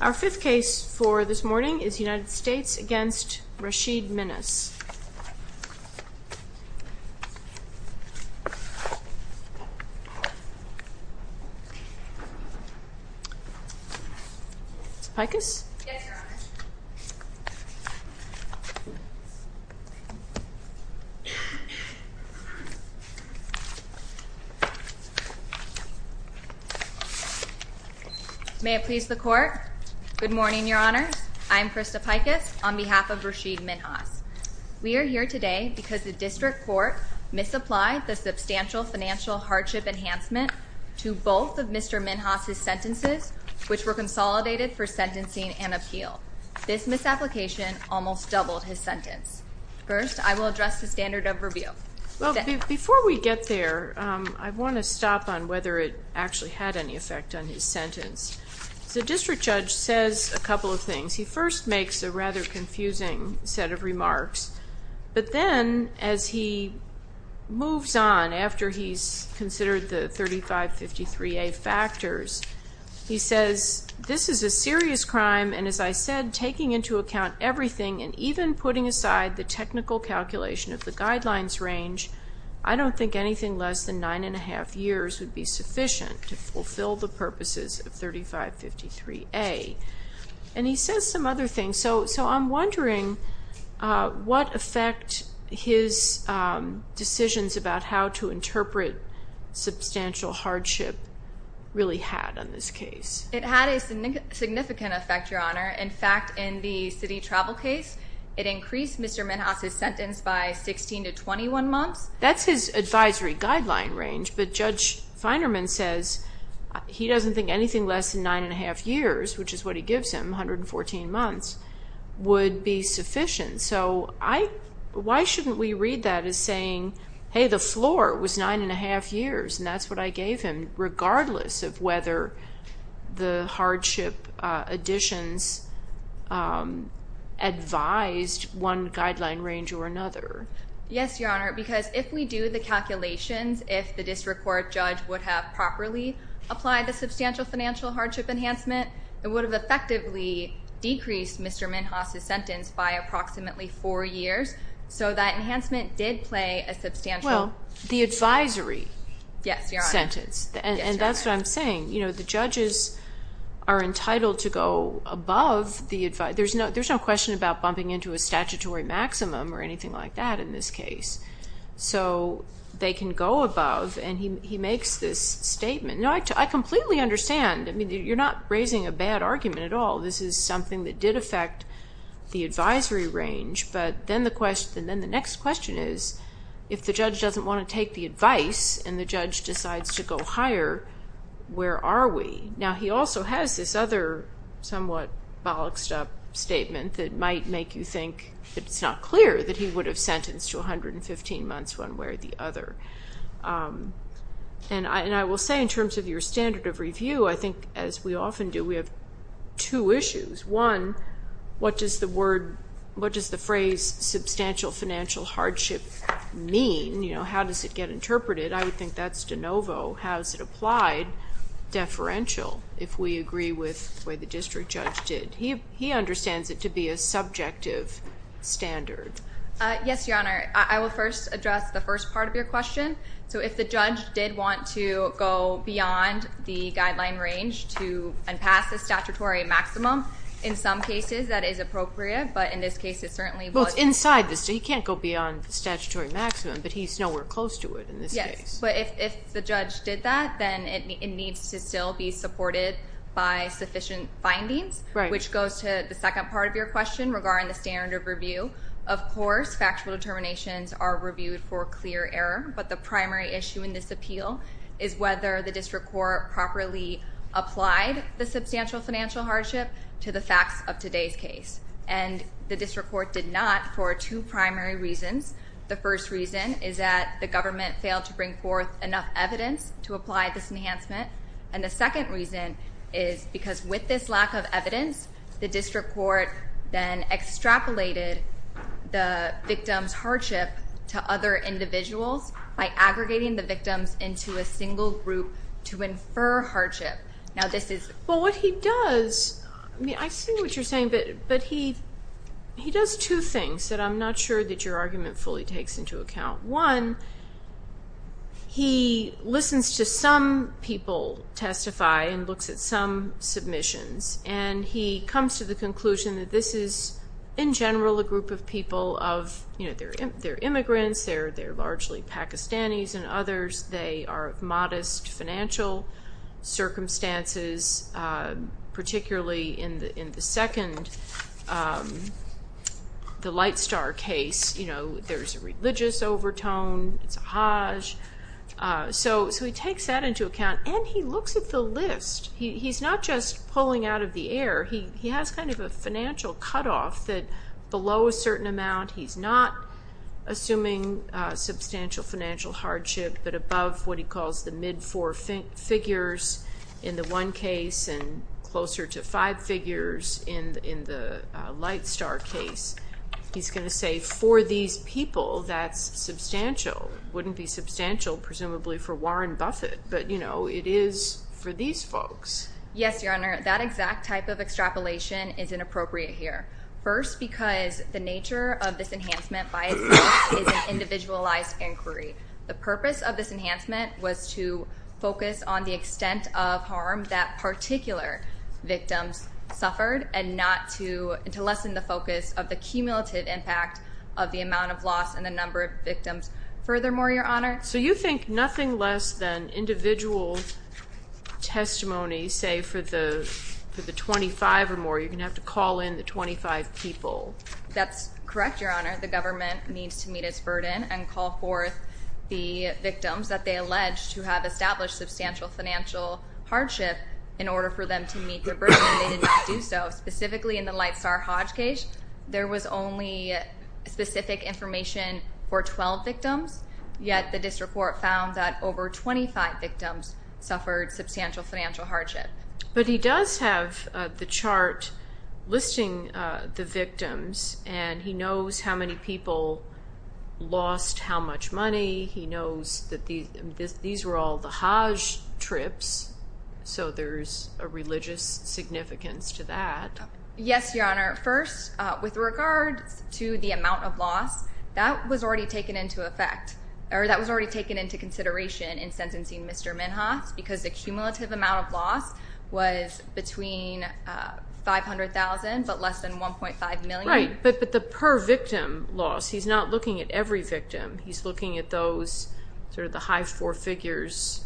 Our fifth case for this morning is United States v. Rashid Minhas. Ms. Pikus? Yes, Your Honor. Good morning, Your Honors. I'm Krista Pikus on behalf of Rashid Minhas. We are here today because the district court misapplied the substantial financial hardship enhancement to both of Mr. Minhas' sentences, which were consolidated for sentencing and appeal. This misapplication almost doubled his sentence. First, I will address the standard of review. Well, before we get there, I want to stop on whether it actually had any effect on his sentence. The district judge says a couple of things. He first makes a rather confusing set of remarks, but then as he moves on after he's considered the 3553A factors, he says, This is a serious crime, and as I said, taking into account everything and even putting aside the technical calculation of the guidelines range, I don't think anything less than nine and a half years would be sufficient to fulfill the purposes of 3553A. And he says some other things. So I'm wondering what effect his decisions about how to interpret substantial hardship really had on this case. It had a significant effect, Your Honor. In fact, in the city travel case, it increased Mr. Minhas' sentence by 16 to 21 months. That's his advisory guideline range, but Judge Feinerman says he doesn't think anything less than nine and a half years, which is what he gives him, 114 months, would be sufficient. So why shouldn't we read that as saying, hey, the floor was nine and a half years, and that's what I gave him, regardless of whether the hardship additions advised one guideline range or another? Yes, Your Honor, because if we do the calculations, if the district court judge would have properly applied the substantial financial hardship enhancement, it would have effectively decreased Mr. Minhas' sentence by approximately four years. So that enhancement did play a substantial role. Well, the advisory sentence, and that's what I'm saying. The judges are entitled to go above the advisory. There's no question about bumping into a statutory maximum or anything like that in this case. So they can go above, and he makes this statement. I completely understand. You're not raising a bad argument at all. This is something that did affect the advisory range, but then the next question is, if the judge doesn't want to take the advice and the judge decides to go higher, where are we? Now, he also has this other somewhat bollocked-up statement that might make you think it's not clear that he would have sentenced to 115 months one way or the other. And I will say, in terms of your standard of review, I think, as we often do, we have two issues. One, what does the phrase substantial financial hardship mean? How does it get interpreted? I would think that's de novo. How is it applied? Deferential, if we agree with the way the district judge did. He understands it to be a subjective standard. Yes, Your Honor. I will first address the first part of your question. So if the judge did want to go beyond the guideline range and pass the statutory maximum, in some cases that is appropriate, but in this case it certainly was not. Well, it's inside the statute. He can't go beyond the statutory maximum, but he's nowhere close to it in this case. But if the judge did that, then it needs to still be supported by sufficient findings, which goes to the second part of your question regarding the standard of review. Of course, factual determinations are reviewed for clear error, but the primary issue in this appeal is whether the district court properly applied the substantial financial hardship to the facts of today's case. And the district court did not for two primary reasons. The first reason is that the government failed to bring forth enough evidence to apply this enhancement. And the second reason is because with this lack of evidence, the district court then extrapolated the victim's hardship to other individuals by aggregating the victims into a single group to infer hardship. Well, what he does, I see what you're saying, but he does two things that I'm not sure that your argument fully takes into account. One, he listens to some people testify and looks at some submissions, and he comes to the conclusion that this is, in general, a group of people of, you know, they're immigrants, they're largely Pakistanis and others. They are of modest financial circumstances, particularly in the second, the Light Star case, you know, there's a religious overtone, it's a hajj. So he takes that into account, and he looks at the list. He's not just pulling out of the air. He has kind of a financial cutoff that below a certain amount, he's not assuming substantial financial hardship, but above what he calls the mid-four figures in the one case and closer to five figures in the Light Star case. He's going to say, for these people, that's substantial. Wouldn't be substantial, presumably, for Warren Buffett, but, you know, it is for these folks. Yes, Your Honor, that exact type of extrapolation is inappropriate here. First, because the nature of this enhancement by itself is an individualized inquiry. The purpose of this enhancement was to focus on the extent of harm that particular victims suffered and not to lessen the focus of the cumulative impact of the amount of loss and the number of victims. Furthermore, Your Honor? So you think nothing less than individual testimony, say, for the 25 or more, you're going to have to call in the 25 people. That's correct, Your Honor. The government needs to meet its burden and call forth the victims that they allege to have established substantial financial hardship in order for them to meet their burden, and they did not do so. Specifically in the Light Star Hodge case, there was only specific information for 12 victims, yet the district court found that over 25 victims suffered substantial financial hardship. But he does have the chart listing the victims, and he knows how many people lost how much money. He knows that these were all the Hodge trips, so there's a religious significance to that. Yes, Your Honor. First, with regards to the amount of loss, that was already taken into consideration in sentencing Mr. Minhas because the cumulative amount of loss was between $500,000 but less than $1.5 million. Right, but the per victim loss, he's not looking at every victim. He's looking at those, sort of the high four figures,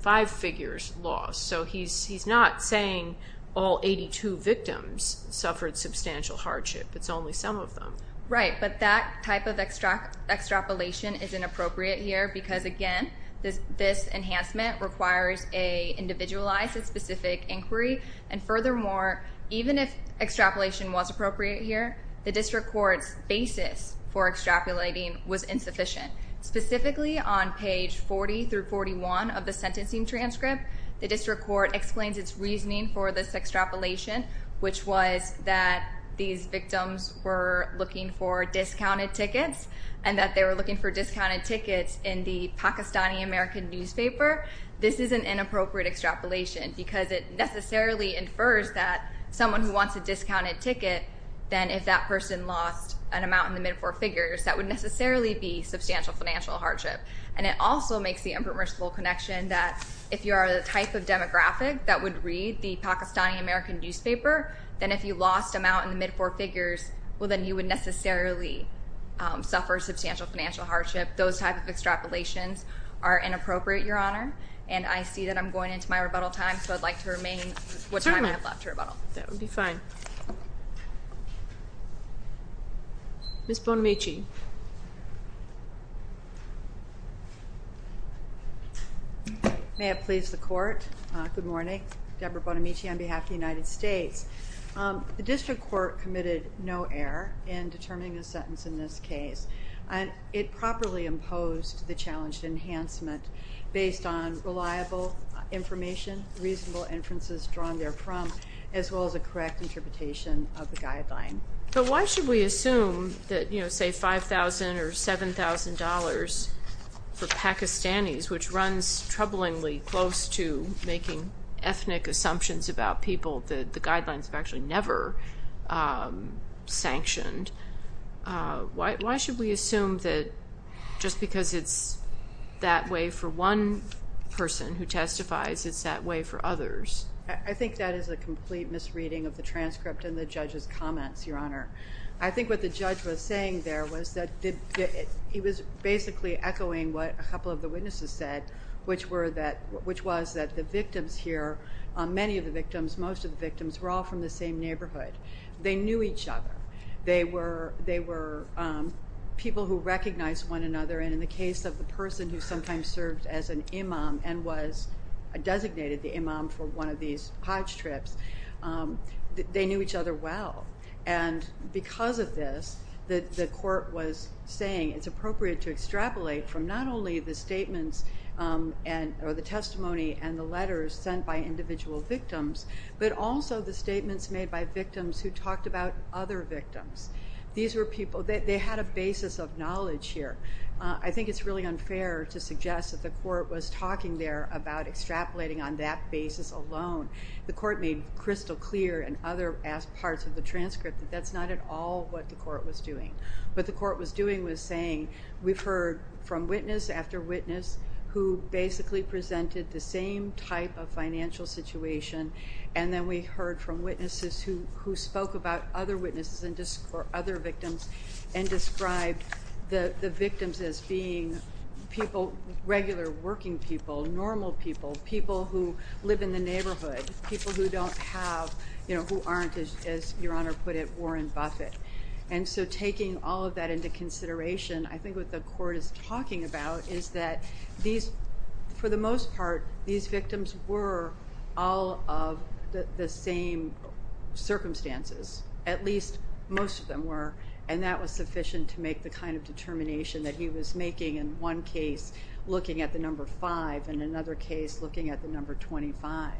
five figures loss. So he's not saying all 82 victims suffered substantial hardship. It's only some of them. Right, but that type of extrapolation is inappropriate here because, again, this enhancement requires a individualized and specific inquiry. And furthermore, even if extrapolation was appropriate here, the district court's basis for extrapolating was insufficient. Specifically, on page 40 through 41 of the sentencing transcript, the district court explains its reasoning for this extrapolation, which was that these victims were looking for discounted tickets and that they were looking for discounted tickets in the Pakistani American newspaper. However, this is an inappropriate extrapolation because it necessarily infers that someone who wants a discounted ticket, then if that person lost an amount in the mid four figures, that would necessarily be substantial financial hardship. And it also makes the impermissible connection that if you are the type of demographic that would read the Pakistani American newspaper, then if you lost amount in the mid four figures, well, then you would necessarily suffer substantial financial hardship. Those type of extrapolations are inappropriate, Your Honor. And I see that I'm going into my rebuttal time, so I'd like to remain what time I have left to rebuttal. That would be fine. Ms. Bonamici. May it please the Court. Good morning. Deborah Bonamici on behalf of the United States. The district court committed no error in determining the sentence in this case. It properly imposed the challenged enhancement based on reliable information, reasonable inferences drawn therefrom, as well as a correct interpretation of the guideline. But why should we assume that, you know, say $5,000 or $7,000 for Pakistanis, which runs troublingly close to making ethnic assumptions about people that the guidelines have actually never sanctioned, why should we assume that just because it's that way for one person who testifies, it's that way for others? I think that is a complete misreading of the transcript and the judge's comments, Your Honor. I think what the judge was saying there was that he was basically echoing what a couple of the witnesses said, which was that the victims here, many of the victims, most of the victims were all from the same neighborhood. They knew each other. They were people who recognized one another, and in the case of the person who sometimes served as an imam and was designated the imam for one of these Hajj trips, they knew each other well. And because of this, the court was saying it's appropriate to extrapolate from not only the statements or the testimony and the letters sent by individual victims, but also the statements made by victims who talked about other victims. These were people, they had a basis of knowledge here. I think it's really unfair to suggest that the court was talking there about extrapolating on that basis alone. The court made crystal clear in other parts of the transcript that that's not at all what the court was doing. What the court was doing was saying we've heard from witness after witness who basically presented the same type of financial situation. And then we heard from witnesses who spoke about other witnesses and other victims and described the victims as being people, regular working people, normal people, people who live in the neighborhood, people who don't have, you know, who aren't, as Your Honor put it, Warren Buffett. And so taking all of that into consideration, I think what the court is talking about is that these, for the most part, these victims were all of the same circumstances. At least most of them were. And that was sufficient to make the kind of determination that he was making in one case looking at the number five and another case looking at the number 25.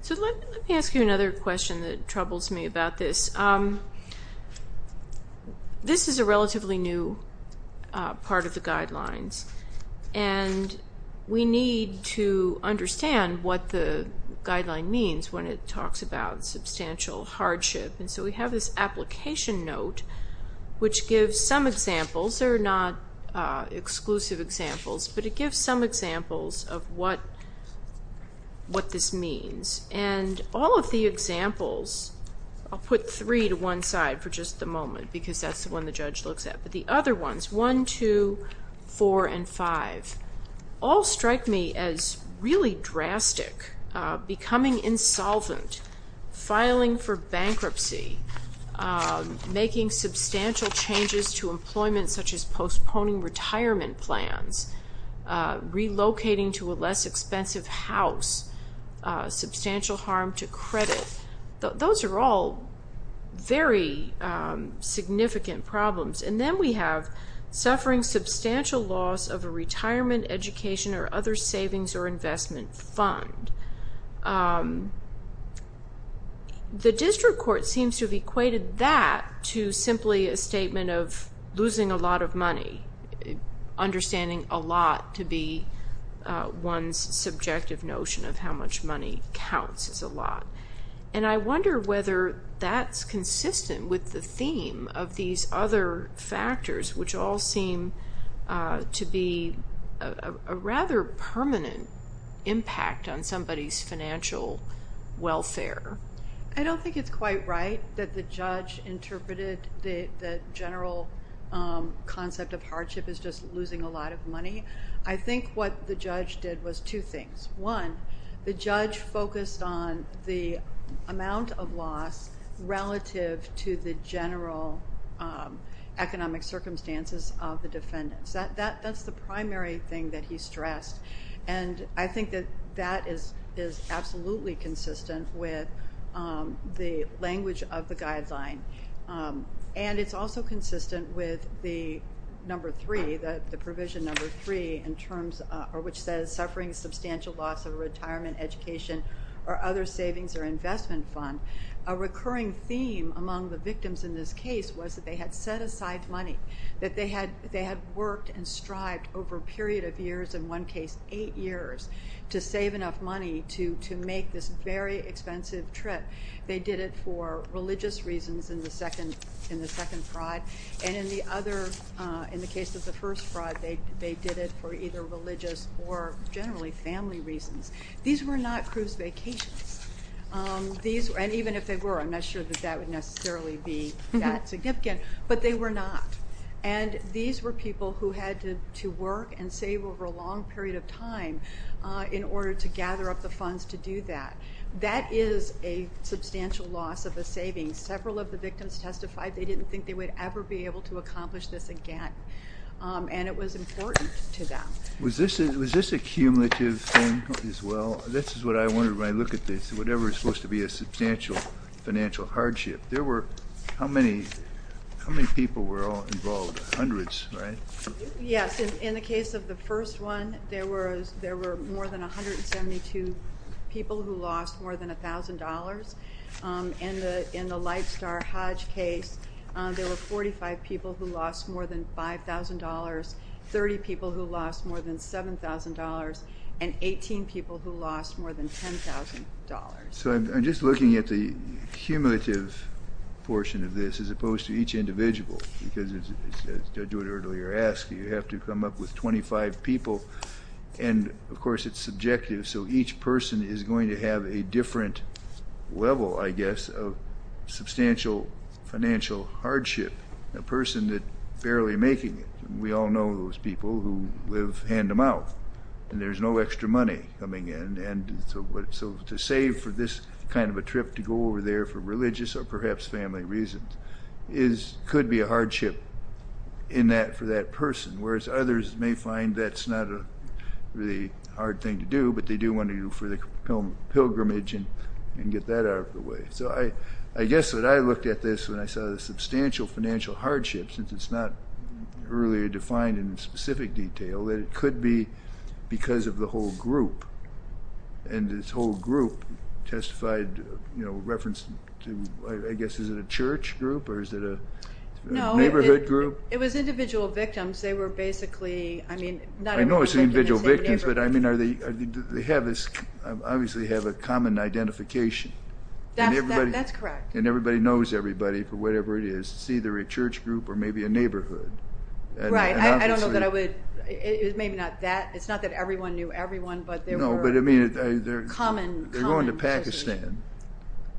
So let me ask you another question that troubles me about this. This is a relatively new part of the guidelines, and we need to understand what the guideline means when it talks about substantial hardship. And so we have this application note which gives some examples. They're not exclusive examples, but it gives some examples of what this means. And all of the examples, I'll put three to one side for just a moment because that's the one the judge looks at, but the other ones, one, two, four, and five, all strike me as really drastic. Becoming insolvent, filing for bankruptcy, making substantial changes to employment such as postponing retirement plans, relocating to a less expensive house, substantial harm to credit. Those are all very significant problems. And then we have suffering substantial loss of a retirement, education, or other savings or investment fund. The district court seems to have equated that to simply a statement of losing a lot of money, understanding a lot to be one's subjective notion of how much money counts as a lot. And I wonder whether that's consistent with the theme of these other factors which all seem to be a rather permanent impact on somebody's financial welfare. I don't think it's quite right that the judge interpreted the general concept of hardship as just losing a lot of money. I think what the judge did was two things. One, the judge focused on the amount of loss relative to the general economic circumstances of the defendants. That's the primary thing that he stressed. And I think that that is absolutely consistent with the language of the guideline. And it's also consistent with the provision number three, which says suffering substantial loss of a retirement, education, or other savings or investment fund. A recurring theme among the victims in this case was that they had set aside money, that they had worked and strived over a period of years, in one case eight years, to save enough money to make this very expensive trip. They did it for religious reasons in the second fraud. And in the other, in the case of the first fraud, they did it for either religious or generally family reasons. These were not cruise vacations. And even if they were, I'm not sure that that would necessarily be that significant. But they were not. And these were people who had to work and save over a long period of time in order to gather up the funds to do that. That is a substantial loss of a savings. Several of the victims testified they didn't think they would ever be able to accomplish this again. And it was important to them. Was this a cumulative thing as well? This is what I wonder when I look at this, whatever is supposed to be a substantial financial hardship. There were, how many people were all involved? Hundreds, right? Yes. In the case of the first one, there were more than 172 people who lost more than $1,000. In the Light Star Hodge case, there were 45 people who lost more than $5,000, 30 people who lost more than $7,000, and 18 people who lost more than $10,000. So I'm just looking at the cumulative portion of this as opposed to each individual. Because as Judge Woodard earlier asked, you have to come up with 25 people. And, of course, it's subjective. So each person is going to have a different level, I guess, of substantial financial hardship, a person that's barely making it. We all know those people who live hand-to-mouth. And there's no extra money coming in. So to save for this kind of a trip to go over there for religious or perhaps family reasons could be a hardship for that person, whereas others may find that's not a really hard thing to do, but they do want to go for the pilgrimage and get that out of the way. So I guess that I looked at this when I saw the substantial financial hardship, since it's not earlier defined in specific detail, that it could be because of the whole group. And this whole group testified reference to, I guess, is it a church group or is it a neighborhood group? No, it was individual victims. They were basically, I mean, not in the same neighborhood. I know it's individual victims, but, I mean, they obviously have a common identification. That's correct. And everybody knows everybody for whatever it is. It's either a church group or maybe a neighborhood. Right. I don't know that I would, maybe not that. It's not that everyone knew everyone, but they were common. They're going to Pakistan.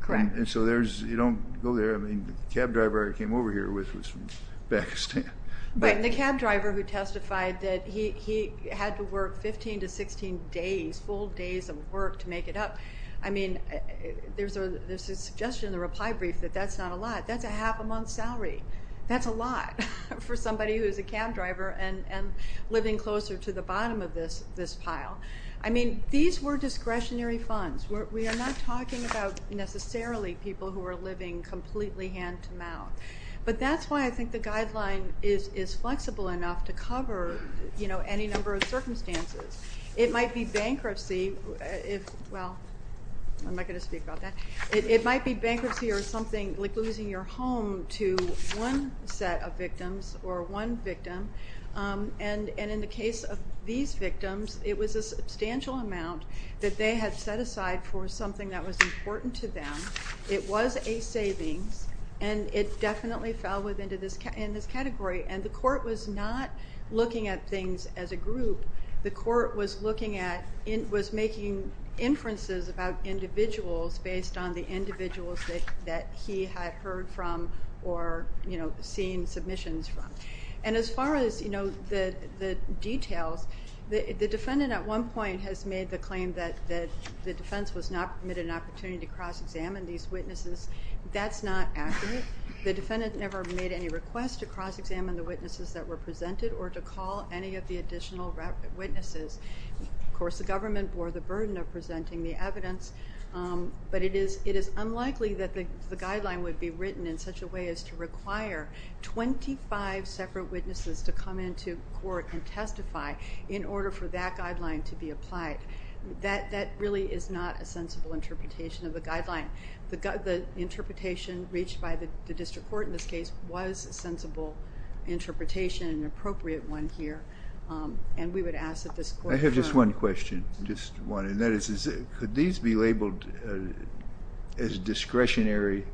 Correct. And so you don't go there. I mean, the cab driver I came over here with was from Pakistan. Right, and the cab driver who testified that he had to work 15 to 16 days, full days of work to make it up. I mean, there's a suggestion in the reply brief that that's not a lot. That's a half-a-month salary. That's a lot for somebody who is a cab driver and living closer to the bottom of this pile. I mean, these were discretionary funds. We are not talking about necessarily people who are living completely hand-to-mouth. But that's why I think the guideline is flexible enough to cover, you know, any number of circumstances. It might be bankruptcy if, well, I'm not going to speak about that. It might be bankruptcy or something like losing your home to one set of victims or one victim. And in the case of these victims, it was a substantial amount that they had set aside for something that was important to them. It was a savings, and it definitely fell within this category. And the court was not looking at things as a group. The court was looking at, was making inferences about individuals based on the individuals that he had heard from or, you know, seen submissions from. And as far as, you know, the details, the defendant at one point has made the claim that the defense was not permitted an opportunity to cross-examine these witnesses. That's not accurate. The defendant never made any request to cross-examine the witnesses that were presented or to call any of the additional witnesses. Of course, the government bore the burden of presenting the evidence. But it is unlikely that the guideline would be written in such a way as to require 25 separate witnesses to come into court and testify in order for that guideline to be applied. That really is not a sensible interpretation of the guideline. The interpretation reached by the district court in this case was a sensible interpretation, an appropriate one here. And we would ask that this court... I have just one question, just one. And that is, could these be labeled as discretionary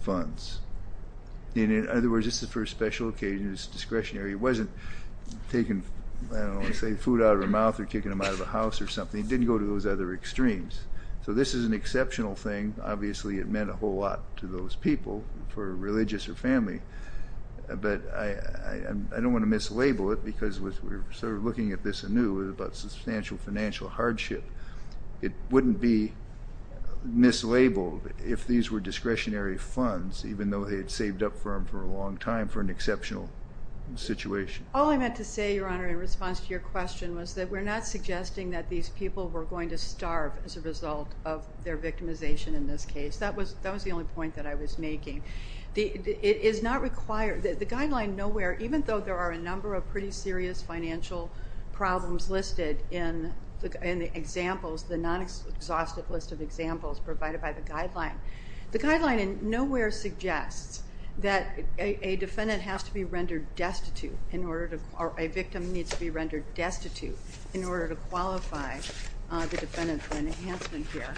funds? In other words, this is for a special occasion, it's discretionary. It wasn't taking, I don't want to say, food out of their mouth or kicking them out of a house or something. It didn't go to those other extremes. So this is an exceptional thing. Obviously, it meant a whole lot to those people, for religious or family. But I don't want to mislabel it because we're sort of looking at this anew. It was about substantial financial hardship. It wouldn't be mislabeled if these were discretionary funds, even though they had saved up for them for a long time for an exceptional situation. All I meant to say, Your Honor, in response to your question, was that we're not suggesting that these people were going to starve as a result of their victimization in this case. That was the only point that I was making. The guideline nowhere, even though there are a number of pretty serious financial problems listed in the examples, the non-exhaustive list of examples provided by the guideline, the guideline nowhere suggests that a defendant has to be rendered destitute, or a victim needs to be rendered destitute in order to qualify the defendant for enhancement here.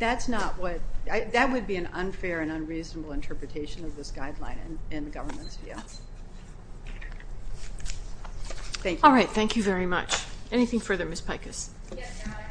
That would be an unfair and unreasonable interpretation of this guideline in the government's view. Thank you. All right. Thank you very much. Anything further, Ms. Pikus? Yes, Your Honor.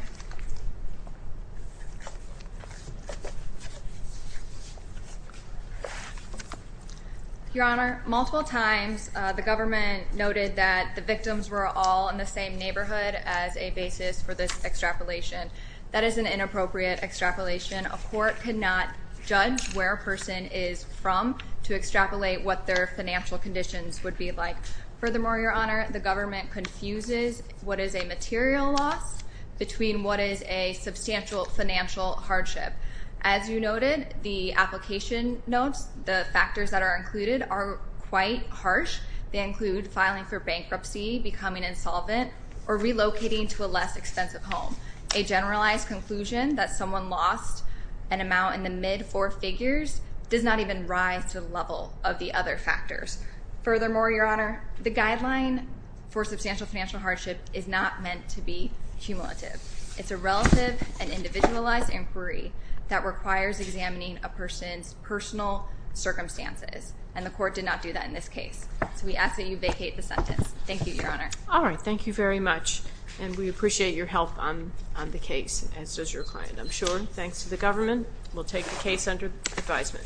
Your Honor, multiple times the government noted that the victims were all in the same neighborhood as a basis for this extrapolation. That is an inappropriate extrapolation. A court cannot judge where a person is from to extrapolate what their financial conditions would be like. Furthermore, Your Honor, the government confuses what is a material loss between what is a substantial financial hardship. As you noted, the application notes, the factors that are included, are quite harsh. They include filing for bankruptcy, becoming insolvent, or relocating to a less expensive home. A generalized conclusion that someone lost an amount in the mid-four figures does not even rise to the level of the other factors. Furthermore, Your Honor, the guideline for substantial financial hardship is not meant to be cumulative. It's a relative and individualized inquiry that requires examining a person's personal circumstances. And the court did not do that in this case. So we ask that you vacate the sentence. Thank you, Your Honor. All right. Thank you very much. And we appreciate your help on the case, as does your client, I'm sure, thanks to the government. We'll take the case under advisement.